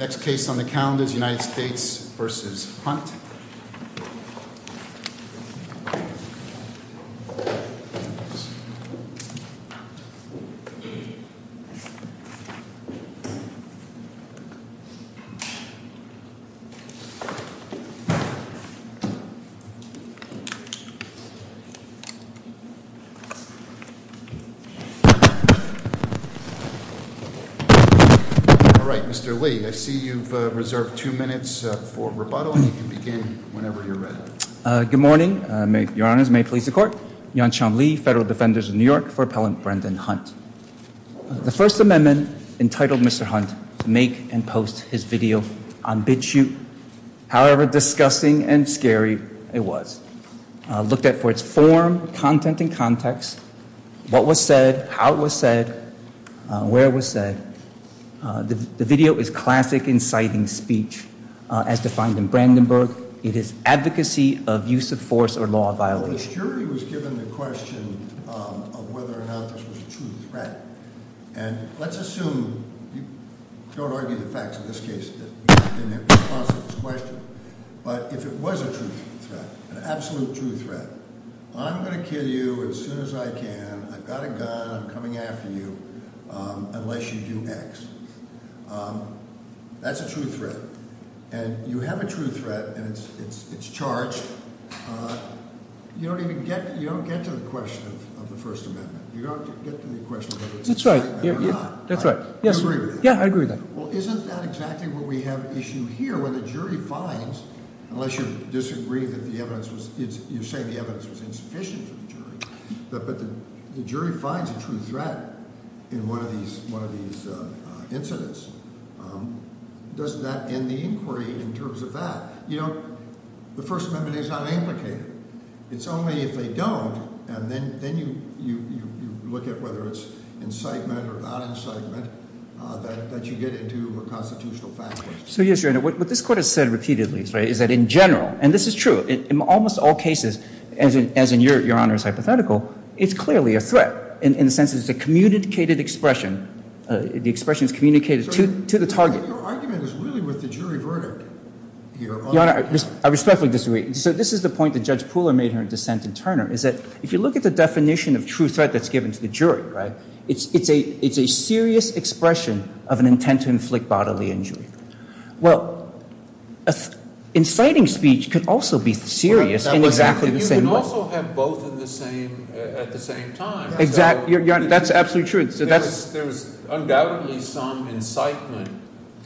Next case on the count is United States v. Hunt. All right, Mr. Lee, I see you've reserved two minutes for rebuttal, and you can begin whenever you're ready. Good morning. Your Honors, may it please the Court. Yan-Chan Lee, Federal Defenders of New York, for Appellant Brendan Hunt. The First Amendment entitled Mr. Hunt to make and post his video on Bitchute, however disgusting and scary it was, looked at for its form, content, and context, what was said, how it was said, where it was said. The video is classic inciting speech, as defined in Brandenburg. It is advocacy of use of force or law of violation. The jury was given the question of whether or not this was a true threat. And let's assume, don't argue the facts in this case, but if it was a true threat, an absolute true threat, I'm going to kill you as soon as I can, I've got a gun, I'm coming after you, unless you do X. That's a true threat. And you have a true threat, and it's charged. You don't even get to the question of the First Amendment. You don't get to the question of whether it's a threat or not. That's right. You agree with that? Yeah, I agree with that. Well, isn't that exactly what we have at issue here, where the jury finds, unless you disagree that the evidence was, you say the evidence was insufficient for the jury, but the jury finds a true threat in one of these incidents. Doesn't that end the inquiry in terms of that? You know, the First Amendment is not implicated. It's only if they don't, and then you look at whether it's incitement or not incitement, that you get into a constitutional fact list. So, yes, Your Honor, what this Court has said repeatedly is that in general, and this is true, in almost all cases, as in Your Honor's hypothetical, it's clearly a threat, in the sense that it's a communicated expression. The expression is communicated to the target. Your argument is really with the jury verdict, Your Honor. Your Honor, I respectfully disagree. So this is the point that Judge Pooler made here in dissent in Turner, is that if you look at the definition of true threat that's given to the jury, right, it's a serious expression of an intent to inflict bodily injury. Well, inciting speech could also be serious in exactly the same way. And you can also have both at the same time. Exactly. That's absolutely true. There was undoubtedly some incitement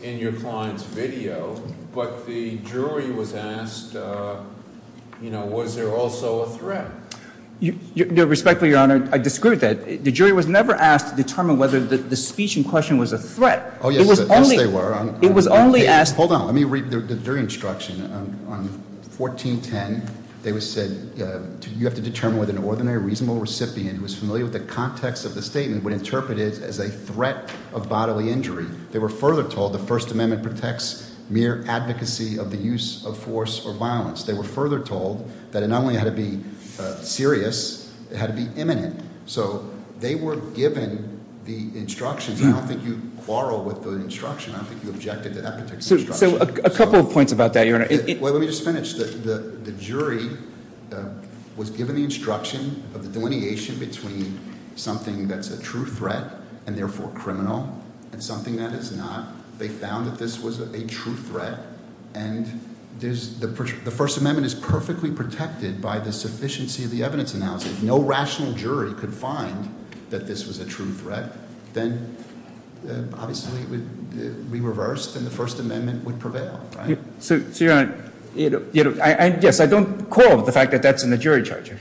in your client's video, but the jury was asked, you know, was there also a threat? Respectfully, Your Honor, I disagree with that. The jury was never asked to determine whether the speech in question was a threat. Oh, yes, they were. It was only asked. Hold on. Let me read the jury instruction. On 1410, they said you have to determine whether an ordinary reasonable recipient who is familiar with the context of the statement would interpret it as a threat of bodily injury. They were further told the First Amendment protects mere advocacy of the use of force or violence. They were further told that it not only had to be serious, it had to be imminent. So they were given the instructions. I don't think you quarrel with the instruction. I don't think you objected to that particular instruction. So a couple of points about that, Your Honor. Let me just finish. The jury was given the instruction of the delineation between something that's a true threat and therefore criminal and something that is not. They found that this was a true threat. And the First Amendment is perfectly protected by the sufficiency of the evidence analysis. If no rational jury could find that this was a true threat, then obviously it would be reversed and the First Amendment would prevail. So, Your Honor, yes, I don't quarrel with the fact that that's in the jury charge.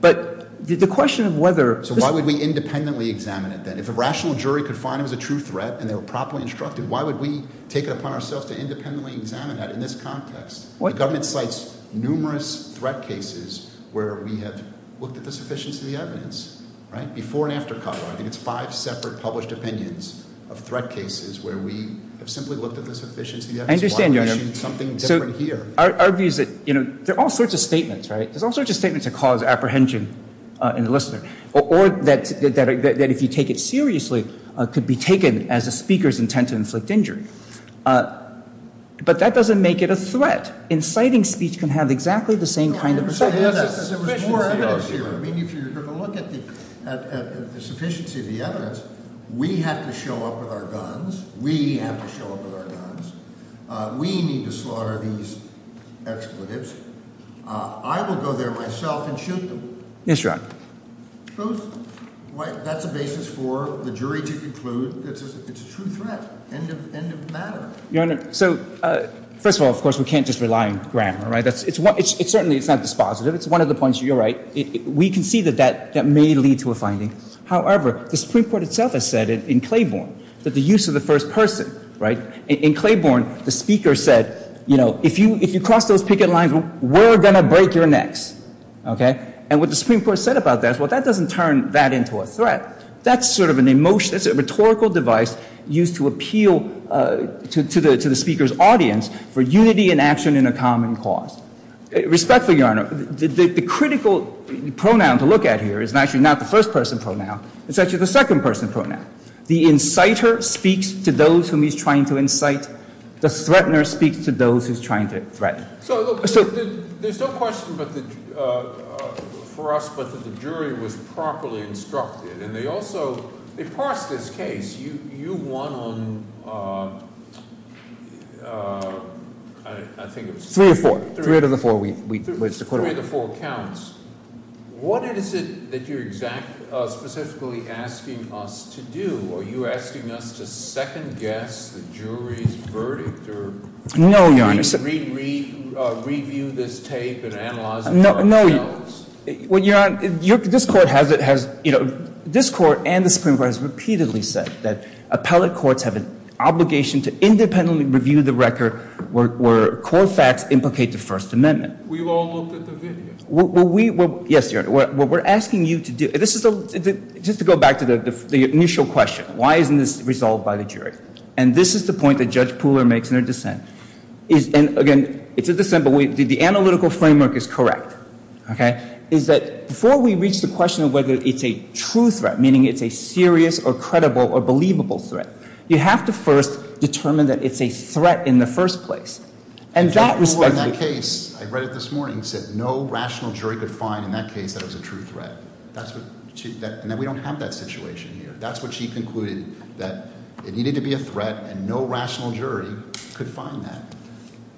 But the question of whether— So why would we independently examine it then? If a rational jury could find it was a true threat and they were properly instructed, why would we take it upon ourselves to independently examine that in this context? The government cites numerous threat cases where we have looked at the sufficiency of the evidence, right, before and after Cutler. I think it's five separate published opinions of threat cases where we have simply looked at the sufficiency of the evidence. I understand, Your Honor. Why issue something different here? Our view is that there are all sorts of statements, right? There's all sorts of statements that cause apprehension in the listener or that if you take it seriously could be taken as the speaker's intent to inflict injury. But that doesn't make it a threat. Inciting speech can have exactly the same kind of effect. There was more evidence here. I mean, if you're going to look at the sufficiency of the evidence, we have to show up with our guns. We have to show up with our guns. We need to slaughter these expletives. I will go there myself and shoot them. Yes, Your Honor. Suppose that's a basis for the jury to conclude that it's a true threat. End of matter. Your Honor, so first of all, of course, we can't just rely on grammar, right? Certainly it's not dispositive. It's one of the points you're right. We can see that that may lead to a finding. However, the Supreme Court itself has said it in Claiborne that the use of the first person, right? In Claiborne, the speaker said, you know, if you cross those picket lines, we're going to break your necks, okay? And what the Supreme Court said about that is, well, that doesn't turn that into a threat. That's sort of an emotion. It's a rhetorical device used to appeal to the speaker's audience for unity in action in a common cause. Respectfully, Your Honor, the critical pronoun to look at here is actually not the first person pronoun. It's actually the second person pronoun. The inciter speaks to those whom he's trying to incite. The threatener speaks to those who's trying to threaten. So there's no question for us but that the jury was properly instructed. And they also, they parsed this case. You won on, I think it was three or four. Three out of the four. Three out of the four counts. What is it that you're specifically asking us to do? Are you asking us to second guess the jury's verdict? No, Your Honor. Review this tape and analyze it for ourselves? No, Your Honor. This Court and the Supreme Court has repeatedly said that appellate courts have an obligation to independently review the record where core facts implicate the First Amendment. We've all looked at the video. Yes, Your Honor. What we're asking you to do, just to go back to the initial question, why isn't this resolved by the jury? And this is the point that Judge Pooler makes in her dissent. And again, it's a dissent, but the analytical framework is correct. Okay? Is that before we reach the question of whether it's a true threat, meaning it's a serious or credible or believable threat, you have to first determine that it's a threat in the first place. And that respect to that case, I read it this morning, said no rational jury could find in that case that it was a true threat. And that we don't have that situation here. That's what she concluded, that it needed to be a threat, and no rational jury could find that.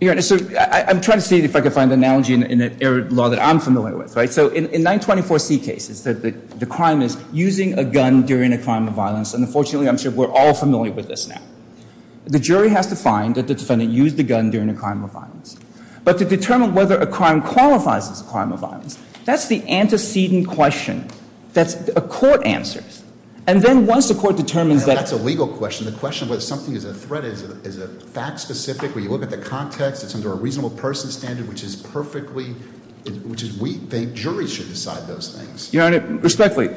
Your Honor, so I'm trying to see if I can find an analogy in an error law that I'm familiar with, right? So in 924C cases, the crime is using a gun during a crime of violence. And unfortunately, I'm sure we're all familiar with this now. The jury has to find that the defendant used the gun during a crime of violence. But to determine whether a crime qualifies as a crime of violence, that's the antecedent question that a court answers. And then once the court determines that— That's a legal question. The question of whether something is a threat is a fact-specific. When you look at the context, it's under a reasonable person standard, which is perfectly—which is, we think, juries should decide those things. Your Honor, respectfully,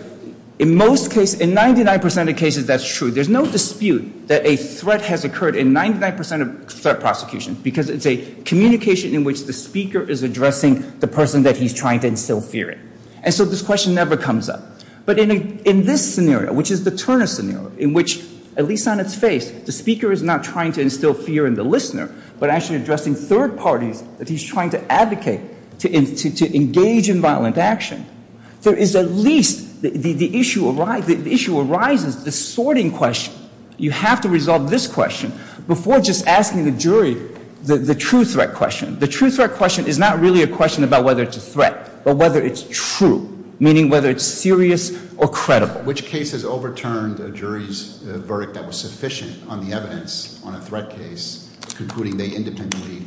in most cases, in 99% of cases, that's true. There's no dispute that a threat has occurred in 99% of threat prosecutions because it's a communication in which the speaker is addressing the person that he's trying to instill fear in. And so this question never comes up. But in this scenario, which is the Turner scenario, in which, at least on its face, the speaker is not trying to instill fear in the listener, but actually addressing third parties that he's trying to advocate to engage in violent action, there is at least—the issue arises, the sorting question—you have to resolve this question before just asking the jury the true threat question. The true threat question is not really a question about whether it's a threat, but whether it's true, meaning whether it's serious or credible. Which case has overturned a jury's verdict that was sufficient on the evidence on a threat case, concluding they independently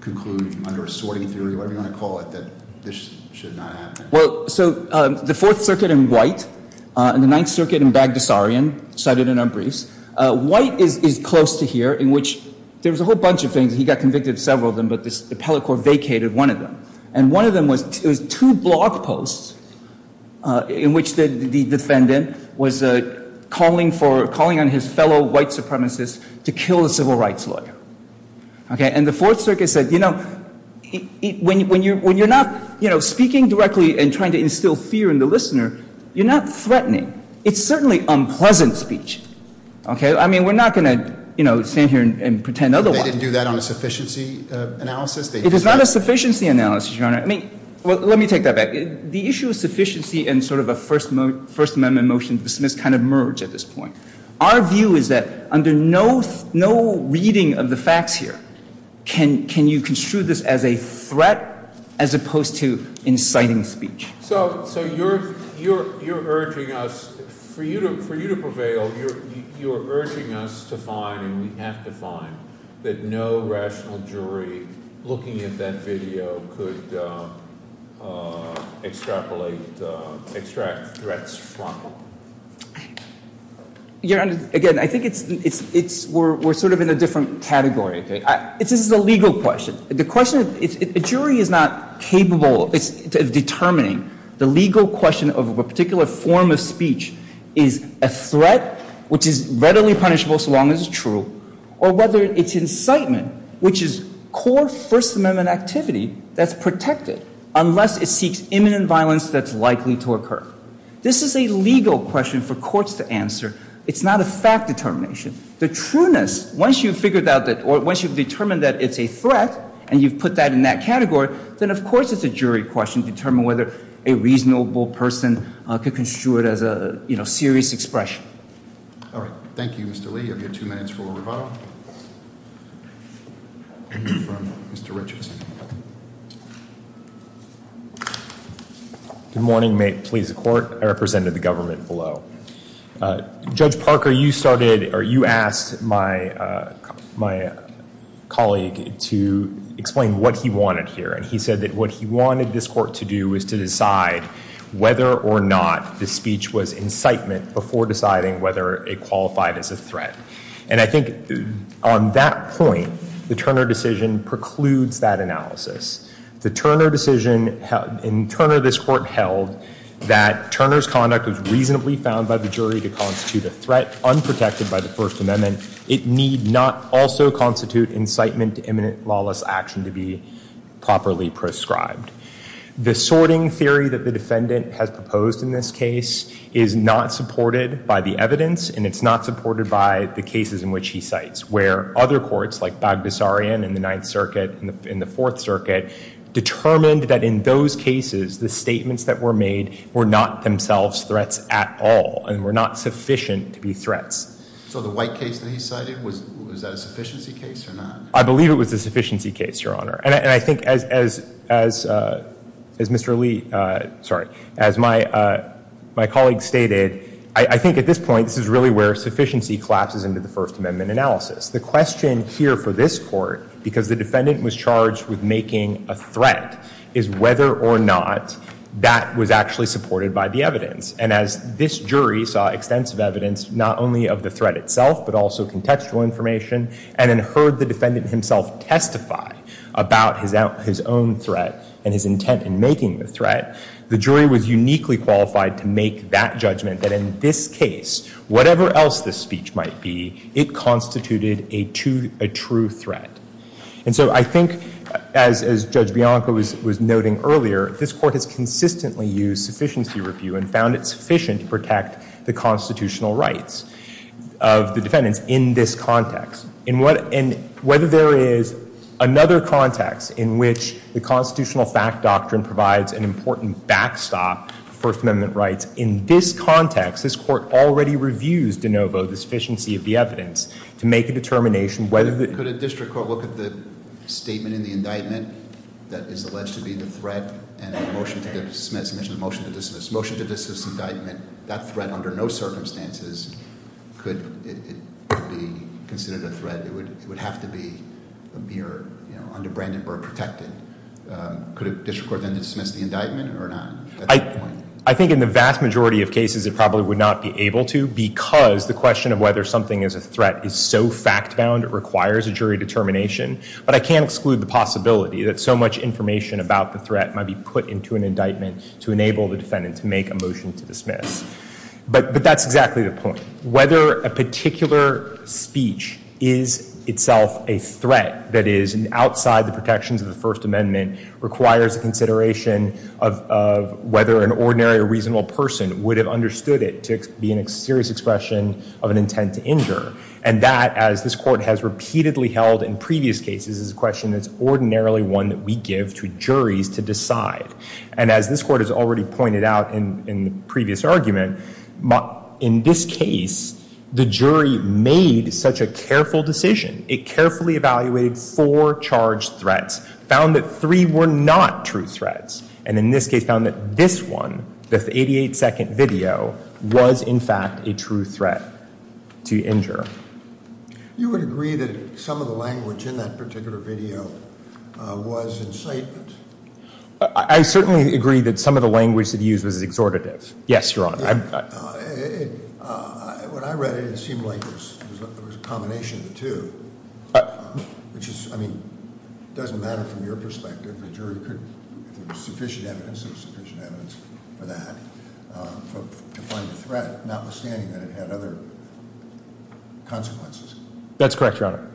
conclude under a sorting theory, whatever you want to call it, that this should not happen? Well, so the Fourth Circuit in White and the Ninth Circuit in Bagdasarian, cited in our briefs. White is close to here, in which there was a whole bunch of things. He got convicted of several of them, but the appellate court vacated one of them. And one of them was—it was two blog posts in which the defendant was calling for— calling on his fellow white supremacists to kill a civil rights lawyer. Okay? And the Fourth Circuit said, you know, when you're not, you know, speaking directly and trying to instill fear in the listener, you're not threatening. It's certainly unpleasant speech. Okay? I mean, we're not going to, you know, stand here and pretend otherwise. But they didn't do that on a sufficiency analysis? It is not a sufficiency analysis, Your Honor. I mean, let me take that back. The issue of sufficiency and sort of a First Amendment motion dismissed kind of merge at this point. Our view is that under no reading of the facts here can you construe this as a threat as opposed to inciting speech. So you're urging us, for you to prevail, you're urging us to find, and we have to find, that no rational jury looking at that video could extrapolate—extract threats from it. Your Honor, again, I think it's—we're sort of in a different category. This is a legal question. The question—a jury is not capable of determining the legal question of a particular form of speech is a threat, which is readily punishable so long as it's true, or whether it's incitement, which is core First Amendment activity that's protected unless it seeks imminent violence that's likely to occur. This is a legal question for courts to answer. It's not a fact determination. The trueness, once you've figured out that—or once you've determined that it's a threat and you've put that in that category, then of course it's a jury question to determine whether a reasonable person could construe it as a serious expression. All right. Thank you, Mr. Lee. You have your two minutes for rebuttal from Mr. Richardson. Good morning. May it please the Court. I represent the government below. Judge Parker, you started—or you asked my colleague to explain what he wanted here, and he said that what he wanted this Court to do is to decide whether or not the speech was incitement before deciding whether it qualified as a threat. And I think on that point, the Turner decision precludes that analysis. The Turner decision—in Turner, this Court held that Turner's conduct was reasonably found by the jury to constitute a threat unprotected by the First Amendment. It need not also constitute incitement to imminent lawless action to be properly prescribed. The sorting theory that the defendant has proposed in this case is not supported by the evidence, and it's not supported by the cases in which he cites, where other courts, like Baghdassarian in the Ninth Circuit and the Fourth Circuit, determined that in those cases, the statements that were made were not themselves threats at all and were not sufficient to be threats. So the White case that he cited, was that a sufficiency case or not? I believe it was a sufficiency case, Your Honor. And I think, as Mr. Lee—sorry, as my colleague stated, I think at this point, this is really where sufficiency collapses into the First Amendment analysis. The question here for this Court, because the defendant was charged with making a threat, and as this jury saw extensive evidence, not only of the threat itself, but also contextual information, and then heard the defendant himself testify about his own threat and his intent in making the threat, the jury was uniquely qualified to make that judgment that in this case, whatever else the speech might be, it constituted a true threat. And so I think, as Judge Bianco was noting earlier, this Court has consistently used sufficiency review and found it sufficient to protect the constitutional rights of the defendants in this context. And whether there is another context in which the constitutional fact doctrine provides an important backstop to First Amendment rights, in this context, this Court already reviews de novo the sufficiency of the evidence to make a determination whether— Could a district court look at the statement in the indictment that is alleged to be the threat and a motion to dismiss, motion to dismiss, motion to dismiss indictment, that threat under no circumstances could be considered a threat. It would have to be a mere, you know, under Brandenburg protected. Could a district court then dismiss the indictment or not at that point? I think in the vast majority of cases, it probably would not be able to because the question of whether something is a threat is so fact-bound, it requires a jury determination. But I can't exclude the possibility that so much information about the threat might be put into an indictment to enable the defendant to make a motion to dismiss. But that's exactly the point. Whether a particular speech is itself a threat, that is outside the protections of the First Amendment, requires a consideration of whether an ordinary or reasonable person would have understood it to be a serious expression of an intent to injure. And that, as this Court has repeatedly held in previous cases, is a question that's ordinarily one that we give to juries to decide. And as this Court has already pointed out in the previous argument, in this case, the jury made such a careful decision, it carefully evaluated four charged threats, found that three were not true threats, and in this case found that this one, the 88-second video, was in fact a true threat to injure. You would agree that some of the language in that particular video was incitement? I certainly agree that some of the language that he used was exhortative. Yes, Your Honor. When I read it, it seemed like there was a combination of the two. Which is, I mean, it doesn't matter from your perspective. The jury could, if there was sufficient evidence, there was sufficient evidence for that, to find a threat, notwithstanding that it had other consequences. That's correct, Your Honor.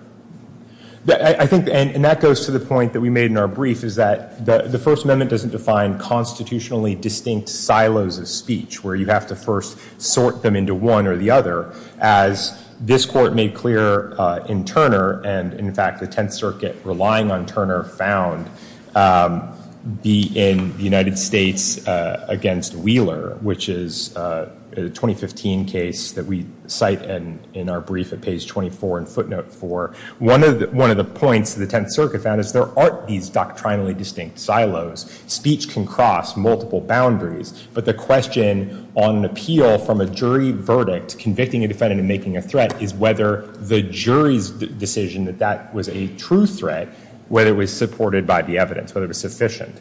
I think, and that goes to the point that we made in our brief, is that the First Amendment doesn't define constitutionally distinct silos of speech, where you have to first sort them into one or the other. As this Court made clear in Turner, and in fact the Tenth Circuit, relying on Turner, found in the United States against Wheeler, which is a 2015 case that we cite in our brief at page 24 in footnote 4, one of the points the Tenth Circuit found is there aren't these doctrinally distinct silos. Speech can cross multiple boundaries, but the question on appeal from a jury verdict, convicting a defendant and making a threat, is whether the jury's decision that that was a true threat, whether it was supported by the evidence, whether it was sufficient,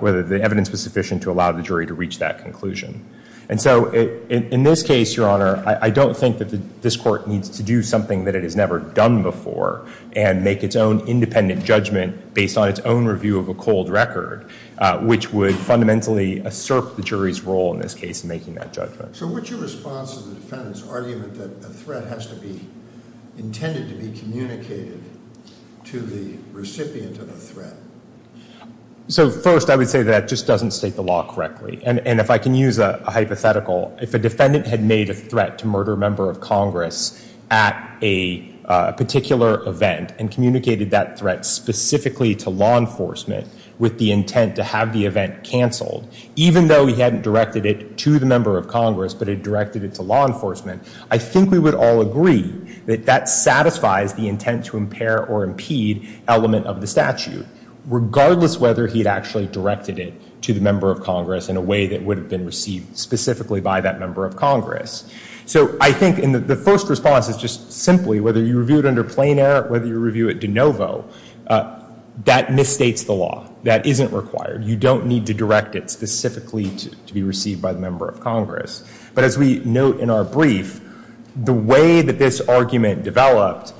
whether the evidence was sufficient to allow the jury to reach that conclusion. And so in this case, Your Honor, I don't think that this Court needs to do something that it has never done before, and make its own independent judgment based on its own review of a cold record, which would fundamentally assert the jury's role in this case in making that judgment. So what's your response to the defendant's argument that a threat has to be intended to be communicated to the recipient of a threat? So first, I would say that just doesn't state the law correctly. And if I can use a hypothetical, if a defendant had made a threat to murder a member of Congress at a particular event and communicated that threat specifically to law enforcement with the intent to have the event canceled, even though he hadn't directed it to the member of Congress, but had directed it to law enforcement, I think we would all agree that that satisfies the intent to impair or impede element of the statute, regardless whether he had actually directed it to the member of Congress in a way that would have been received specifically by that member of Congress. So I think the first response is just simply, whether you review it under Plain Air, whether you review it de novo, that misstates the law. That isn't required. You don't need to direct it specifically to be received by the member of Congress. But as we note in our brief, the way that this argument developed,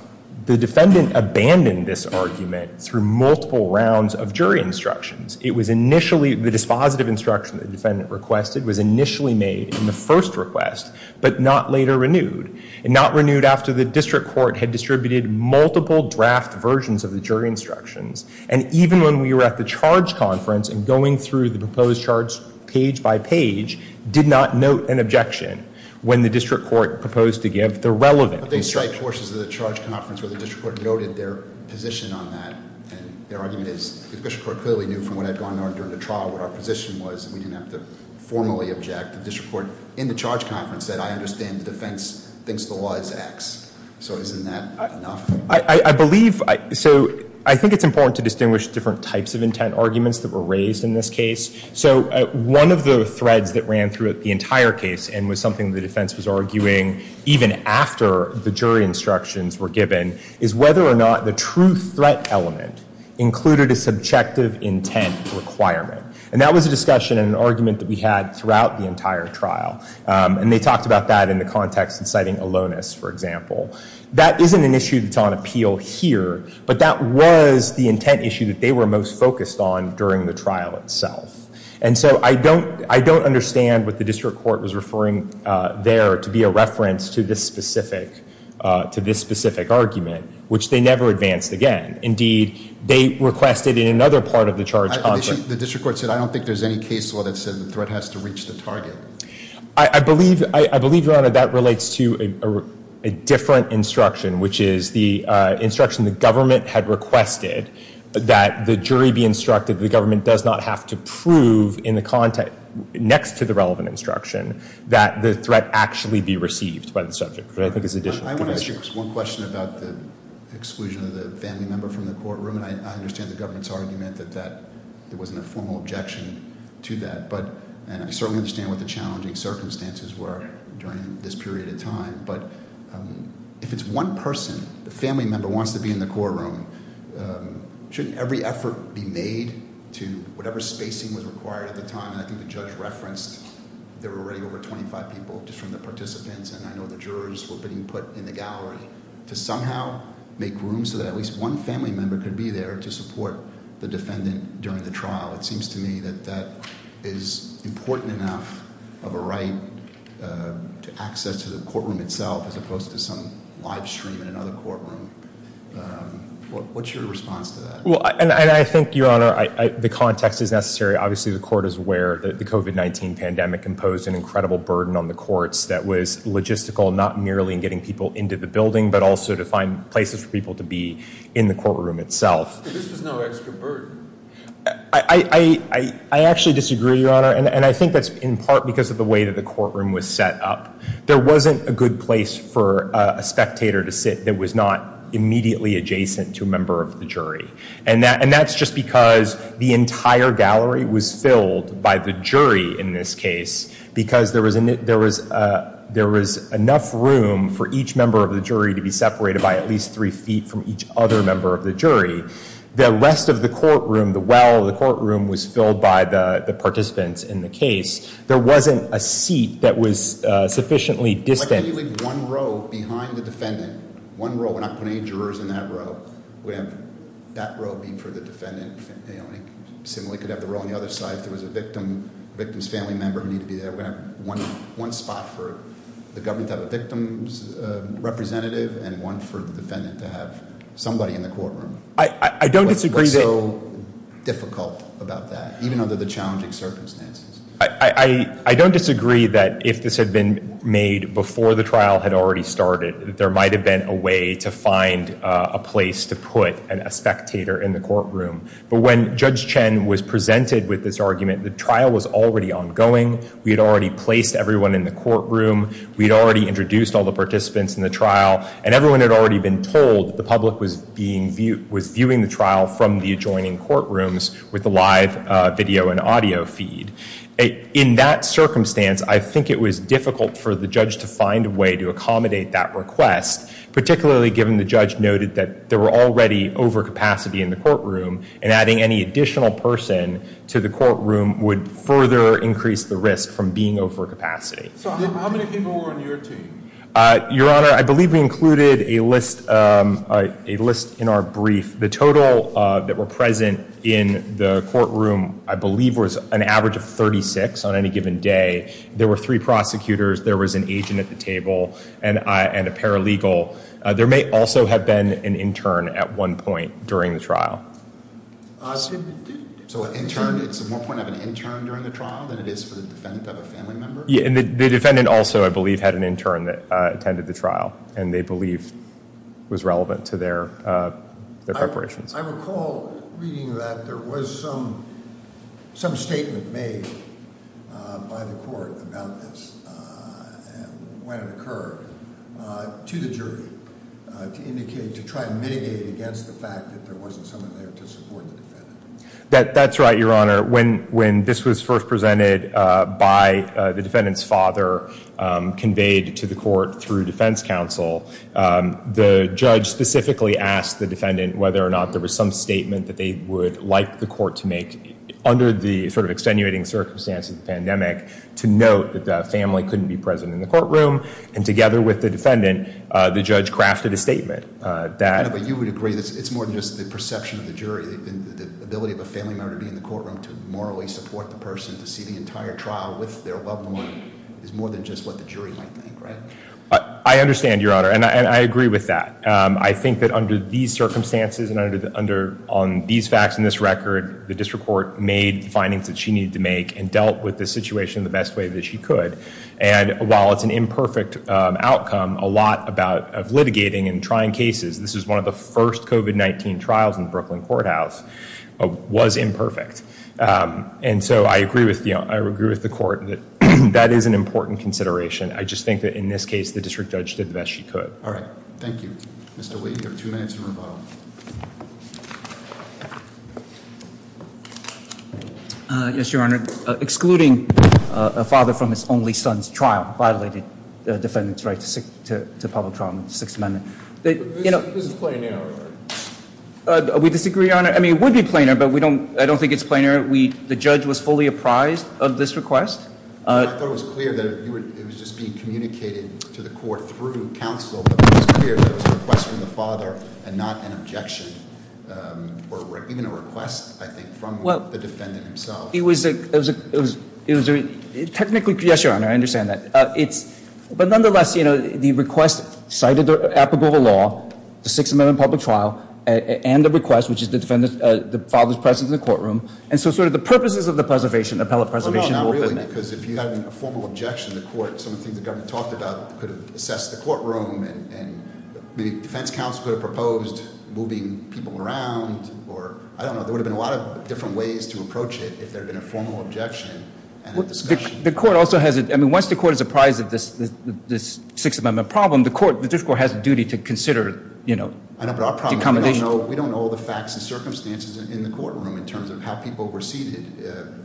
the defendant abandoned this argument through multiple rounds of jury instructions. It was initially, the dispositive instruction the defendant requested was initially made in the first request, but not later renewed. And not renewed after the district court had distributed multiple draft versions of the jury instructions. And even when we were at the charge conference and going through the proposed charge page by page, did not note an objection when the district court proposed to give the relevant instruction. But they cite portions of the charge conference where the district court noted their position on that. And their argument is, the district court clearly knew from what had gone on during the trial what our position was, and we didn't have to formally object. The district court in the charge conference said, I understand the defense thinks the law is X. So isn't that enough? I believe, so I think it's important to distinguish different types of intent arguments that were raised in this case. So one of the threads that ran throughout the entire case, and was something the defense was arguing, even after the jury instructions were given, is whether or not the true threat element included a subjective intent requirement. And that was a discussion and an argument that we had throughout the entire trial. And they talked about that in the context of citing aloneness, for example. That isn't an issue that's on appeal here, but that was the intent issue that they were most focused on during the trial itself. And so I don't understand what the district court was referring there to be a reference to this specific argument, which they never advanced again. Indeed, they requested in another part of the charge conference The district court said, I don't think there's any case law that says the threat has to reach the target. I believe, Your Honor, that relates to a different instruction, which is the instruction the government had requested that the jury be instructed that the government does not have to prove in the context next to the relevant instruction that the threat actually be received by the subject. But I think it's additional. I want to ask you one question about the exclusion of the family member from the courtroom. I understand the government's argument that there wasn't a formal objection to that. And I certainly understand what the challenging circumstances were during this period of time. But if it's one person, the family member wants to be in the courtroom, shouldn't every effort be made to whatever spacing was required at the time? And I think the judge referenced there were already over 25 people just from the participants. And I know the jurors were being put in the gallery to somehow make room so that at least one family member could be there to support the defendant during the trial. It seems to me that that is important enough of a right to access to the courtroom itself as opposed to some live stream in another courtroom. What's your response to that? Well, and I think, Your Honor, the context is necessary. Obviously, the court is aware that the COVID-19 pandemic imposed an incredible burden on the courts that was logistical not merely in getting people into the building but also to find places for people to be in the courtroom itself. But this was no extra burden. I actually disagree, Your Honor. And I think that's in part because of the way that the courtroom was set up. There wasn't a good place for a spectator to sit that was not immediately adjacent to a member of the jury. And that's just because the entire gallery was filled by the jury in this case because there was enough room for each member of the jury to be separated by at least three feet from each other member of the jury. The rest of the courtroom, the well of the courtroom, was filled by the participants in the case. There wasn't a seat that was sufficiently distant. Why can't you leave one row behind the defendant? One row. We're not putting any jurors in that row. We have that row being for the defendant. Similarly could have the row on the other side if there was a victim's family member who needed to be there. We have one spot for the government to have a victim's representative and one for the defendant to have somebody in the courtroom. I don't disagree that- What's so difficult about that, even under the challenging circumstances? I don't disagree that if this had been made before the trial had already started, there might have been a way to find a place to put a spectator in the courtroom. But when Judge Chen was presented with this argument, the trial was already ongoing. We had already placed everyone in the courtroom. We had already introduced all the participants in the trial. And everyone had already been told the public was viewing the trial from the adjoining courtrooms with the live video and audio feed. In that circumstance, I think it was difficult for the judge to find a way to accommodate that request, particularly given the judge noted that there were already overcapacity in the courtroom and adding any additional person to the courtroom would further increase the risk from being overcapacity. So how many people were on your team? Your Honor, I believe we included a list in our brief. The total that were present in the courtroom, I believe, was an average of 36 on any given day. There were three prosecutors. There was an agent at the table and a paralegal. There may also have been an intern at one point during the trial. So an intern, it's more point of an intern during the trial than it is for the defendant to have a family member? Yeah, and the defendant also, I believe, had an intern that attended the trial and they believe was relevant to their preparations. I recall reading that there was some statement made by the court about this when it occurred to the jury to try and mitigate against the fact that there wasn't someone there to support the defendant. That's right, Your Honor. When this was first presented by the defendant's father, conveyed to the court through defense counsel, the judge specifically asked the defendant whether or not there was some statement that they would like the court to make under the sort of extenuating circumstances of the pandemic to note that the family couldn't be present in the courtroom. And together with the defendant, the judge crafted a statement. But you would agree that it's more than just the perception of the jury. The ability of a family member to be in the courtroom to morally support the person, to see the entire trial with their loved one, is more than just what the jury might think, right? I understand, Your Honor, and I agree with that. I think that under these circumstances and on these facts and this record, the district court made the findings that she needed to make and dealt with the situation the best way that she could. And while it's an imperfect outcome, a lot of litigating and trying cases, this is one of the first COVID-19 trials in the Brooklyn courthouse, was imperfect. And so I agree with the court that that is an important consideration. I just think that in this case, the district judge did the best she could. All right. Thank you. Mr. Wade, you have two minutes and rebuttal. Yes, Your Honor. Excluding a father from his only son's trial violated the defendant's right to public trial in the Sixth Amendment. This is planar, right? We disagree, Your Honor. I mean, it would be planar, but I don't think it's planar. The judge was fully apprised of this request. I thought it was clear that it was just being communicated to the court through counsel, but it was clear that it was a request from the father and not an objection or even a request, I think, from the defendant himself. Technically, yes, Your Honor, I understand that. But nonetheless, the request cited applicable to law, the Sixth Amendment public trial, and the request, which is the father's presence in the courtroom. And so sort of the purposes of the appellate preservation- No, no, no, not really, because if you had a formal objection, the court, some of the things the government talked about could have assessed the courtroom, and maybe defense counsel could have proposed moving people around, or I don't know. There would have been a lot of different ways to approach it if there had been a formal objection and a discussion. The court also has a, I mean, once the court is apprised of this Sixth Amendment problem, the court, the district court has a duty to consider, you know, accommodation. I know, but our problem is we don't know all the facts and circumstances in the courtroom in terms of how people were seated.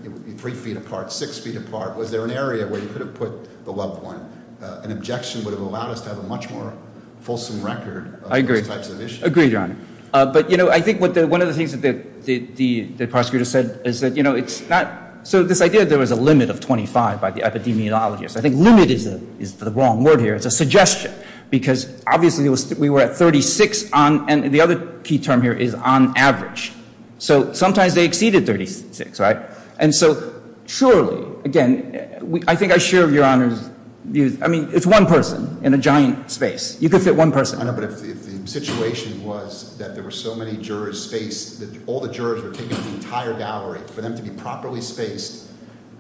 It would be three feet apart, six feet apart. Was there an area where you could have put the loved one? An objection would have allowed us to have a much more fulsome record of those types of issues. I agree, Your Honor. But, you know, I think one of the things that the prosecutor said is that, you know, it's not- So this idea that there was a limit of 25 by the epidemiologist, I think limit is the wrong word here. It's a suggestion, because obviously we were at 36 on- and the other key term here is on average. So sometimes they exceeded 36, right? And so surely, again, I think I share Your Honor's views. I mean, it's one person in a giant space. You could fit one person. I know, but if the situation was that there were so many jurors spaced that all the jurors were taking the entire gallery, for them to be properly spaced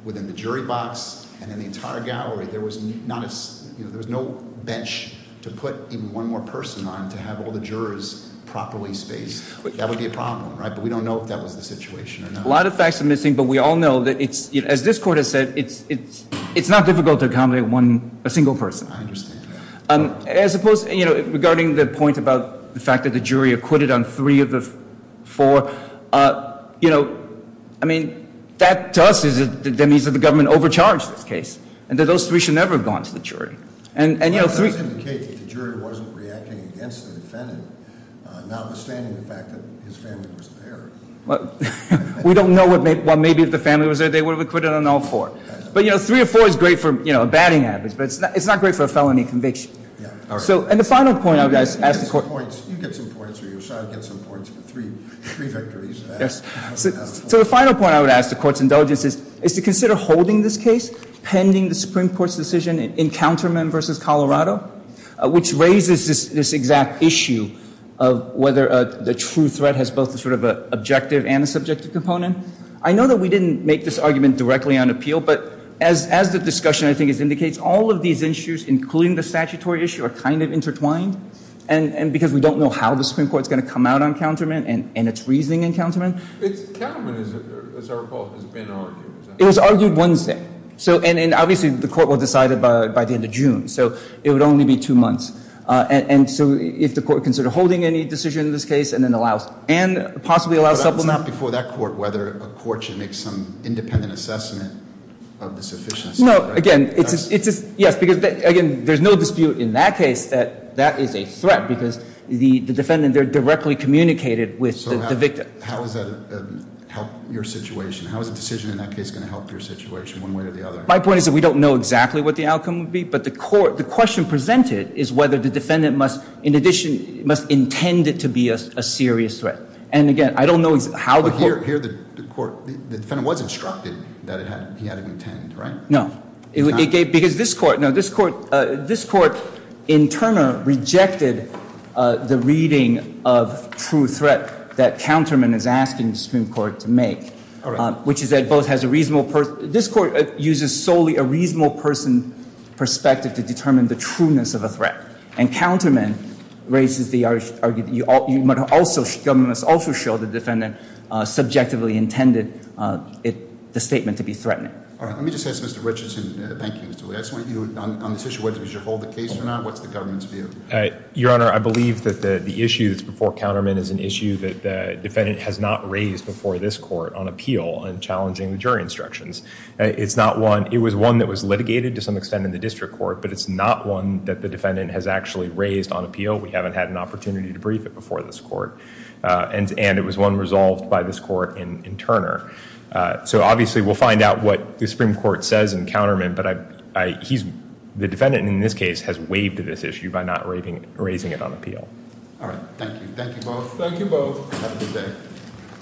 within the jury box and in the entire gallery, there was not a- you know, there was no bench to put even one more person on to have all the jurors properly spaced. That would be a problem, right? But we don't know if that was the situation or not. A lot of facts are missing, but we all know that it's- as this court has said, it's not difficult to accommodate one- a single person. I understand that. As opposed- you know, regarding the point about the fact that the jury acquitted on three of the four, you know, I mean, that to us is- that means that the government overcharged this case and that those three should never have gone to the jury. And, you know, three- Well, that does indicate that the jury wasn't reacting against the defendant, notwithstanding the fact that his family was there. Well, we don't know what may- well, maybe if the family was there, they would have acquitted on all four. But, you know, three of four is great for, you know, abetting habits, but it's not great for a felony conviction. Yeah, all right. So, and the final point I would ask- You get some points. You get some points or your side gets some points for three victories. Yes. So the final point I would ask the court's indulgence is to consider holding this case pending the Supreme Court's decision in Counterman v. Colorado, which raises this exact issue of whether the true threat has both a sort of an objective and a subjective component. I know that we didn't make this argument directly on appeal, but as the discussion, I think, indicates, all of these issues, including the statutory issue, are kind of intertwined. And because we don't know how the Supreme Court's going to come out on Counterman and its reasoning in Counterman- It's- Counterman, as I recall, has been argued. It was argued Wednesday. So, and obviously the court will decide it by the end of June. So it would only be two months. And so if the court considered holding any decision in this case and then allow- and possibly allow supplement- But that was before that court, whether a court should make some independent assessment of the sufficiency, right? No, again, it's just- yes, because, again, there's no dispute in that case that that is a threat because the defendant there directly communicated with the victim. How is that going to help your situation? How is a decision in that case going to help your situation one way or the other? My point is that we don't know exactly what the outcome would be. But the court- the question presented is whether the defendant must, in addition, must intend it to be a serious threat. And, again, I don't know how the court- Well, here the court- the defendant was instructed that it had- he had it intended, right? No. Because this court- no, this court- this court, in Turner, rejected the reading of true threat that Counterman is asking the Supreme Court to make. All right. Which is that both has a reasonable- this court uses solely a reasonable person perspective to determine the trueness of a threat. And Counterman raises the argument that you must also- the government must also show the defendant subjectively intended the statement to be threatening. All right. Let me just ask Mr. Richardson- thank you, Mr. Lee- I just want you, on this issue, whether you should hold the case or not, what's the government's view? Your Honor, I believe that the issue that's before Counterman is an issue that the defendant has not raised before this court on appeal and challenging the jury instructions. It's not one- it was one that was litigated to some extent in the district court, but it's not one that the defendant has actually raised on appeal. We haven't had an opportunity to brief it before this court. And it was one resolved by this court in Turner. So obviously we'll find out what the Supreme Court says in Counterman, but I- he's- the defendant in this case has waived this issue by not raising it on appeal. All right. Thank you. Thank you both. Thank you both. Have a good day.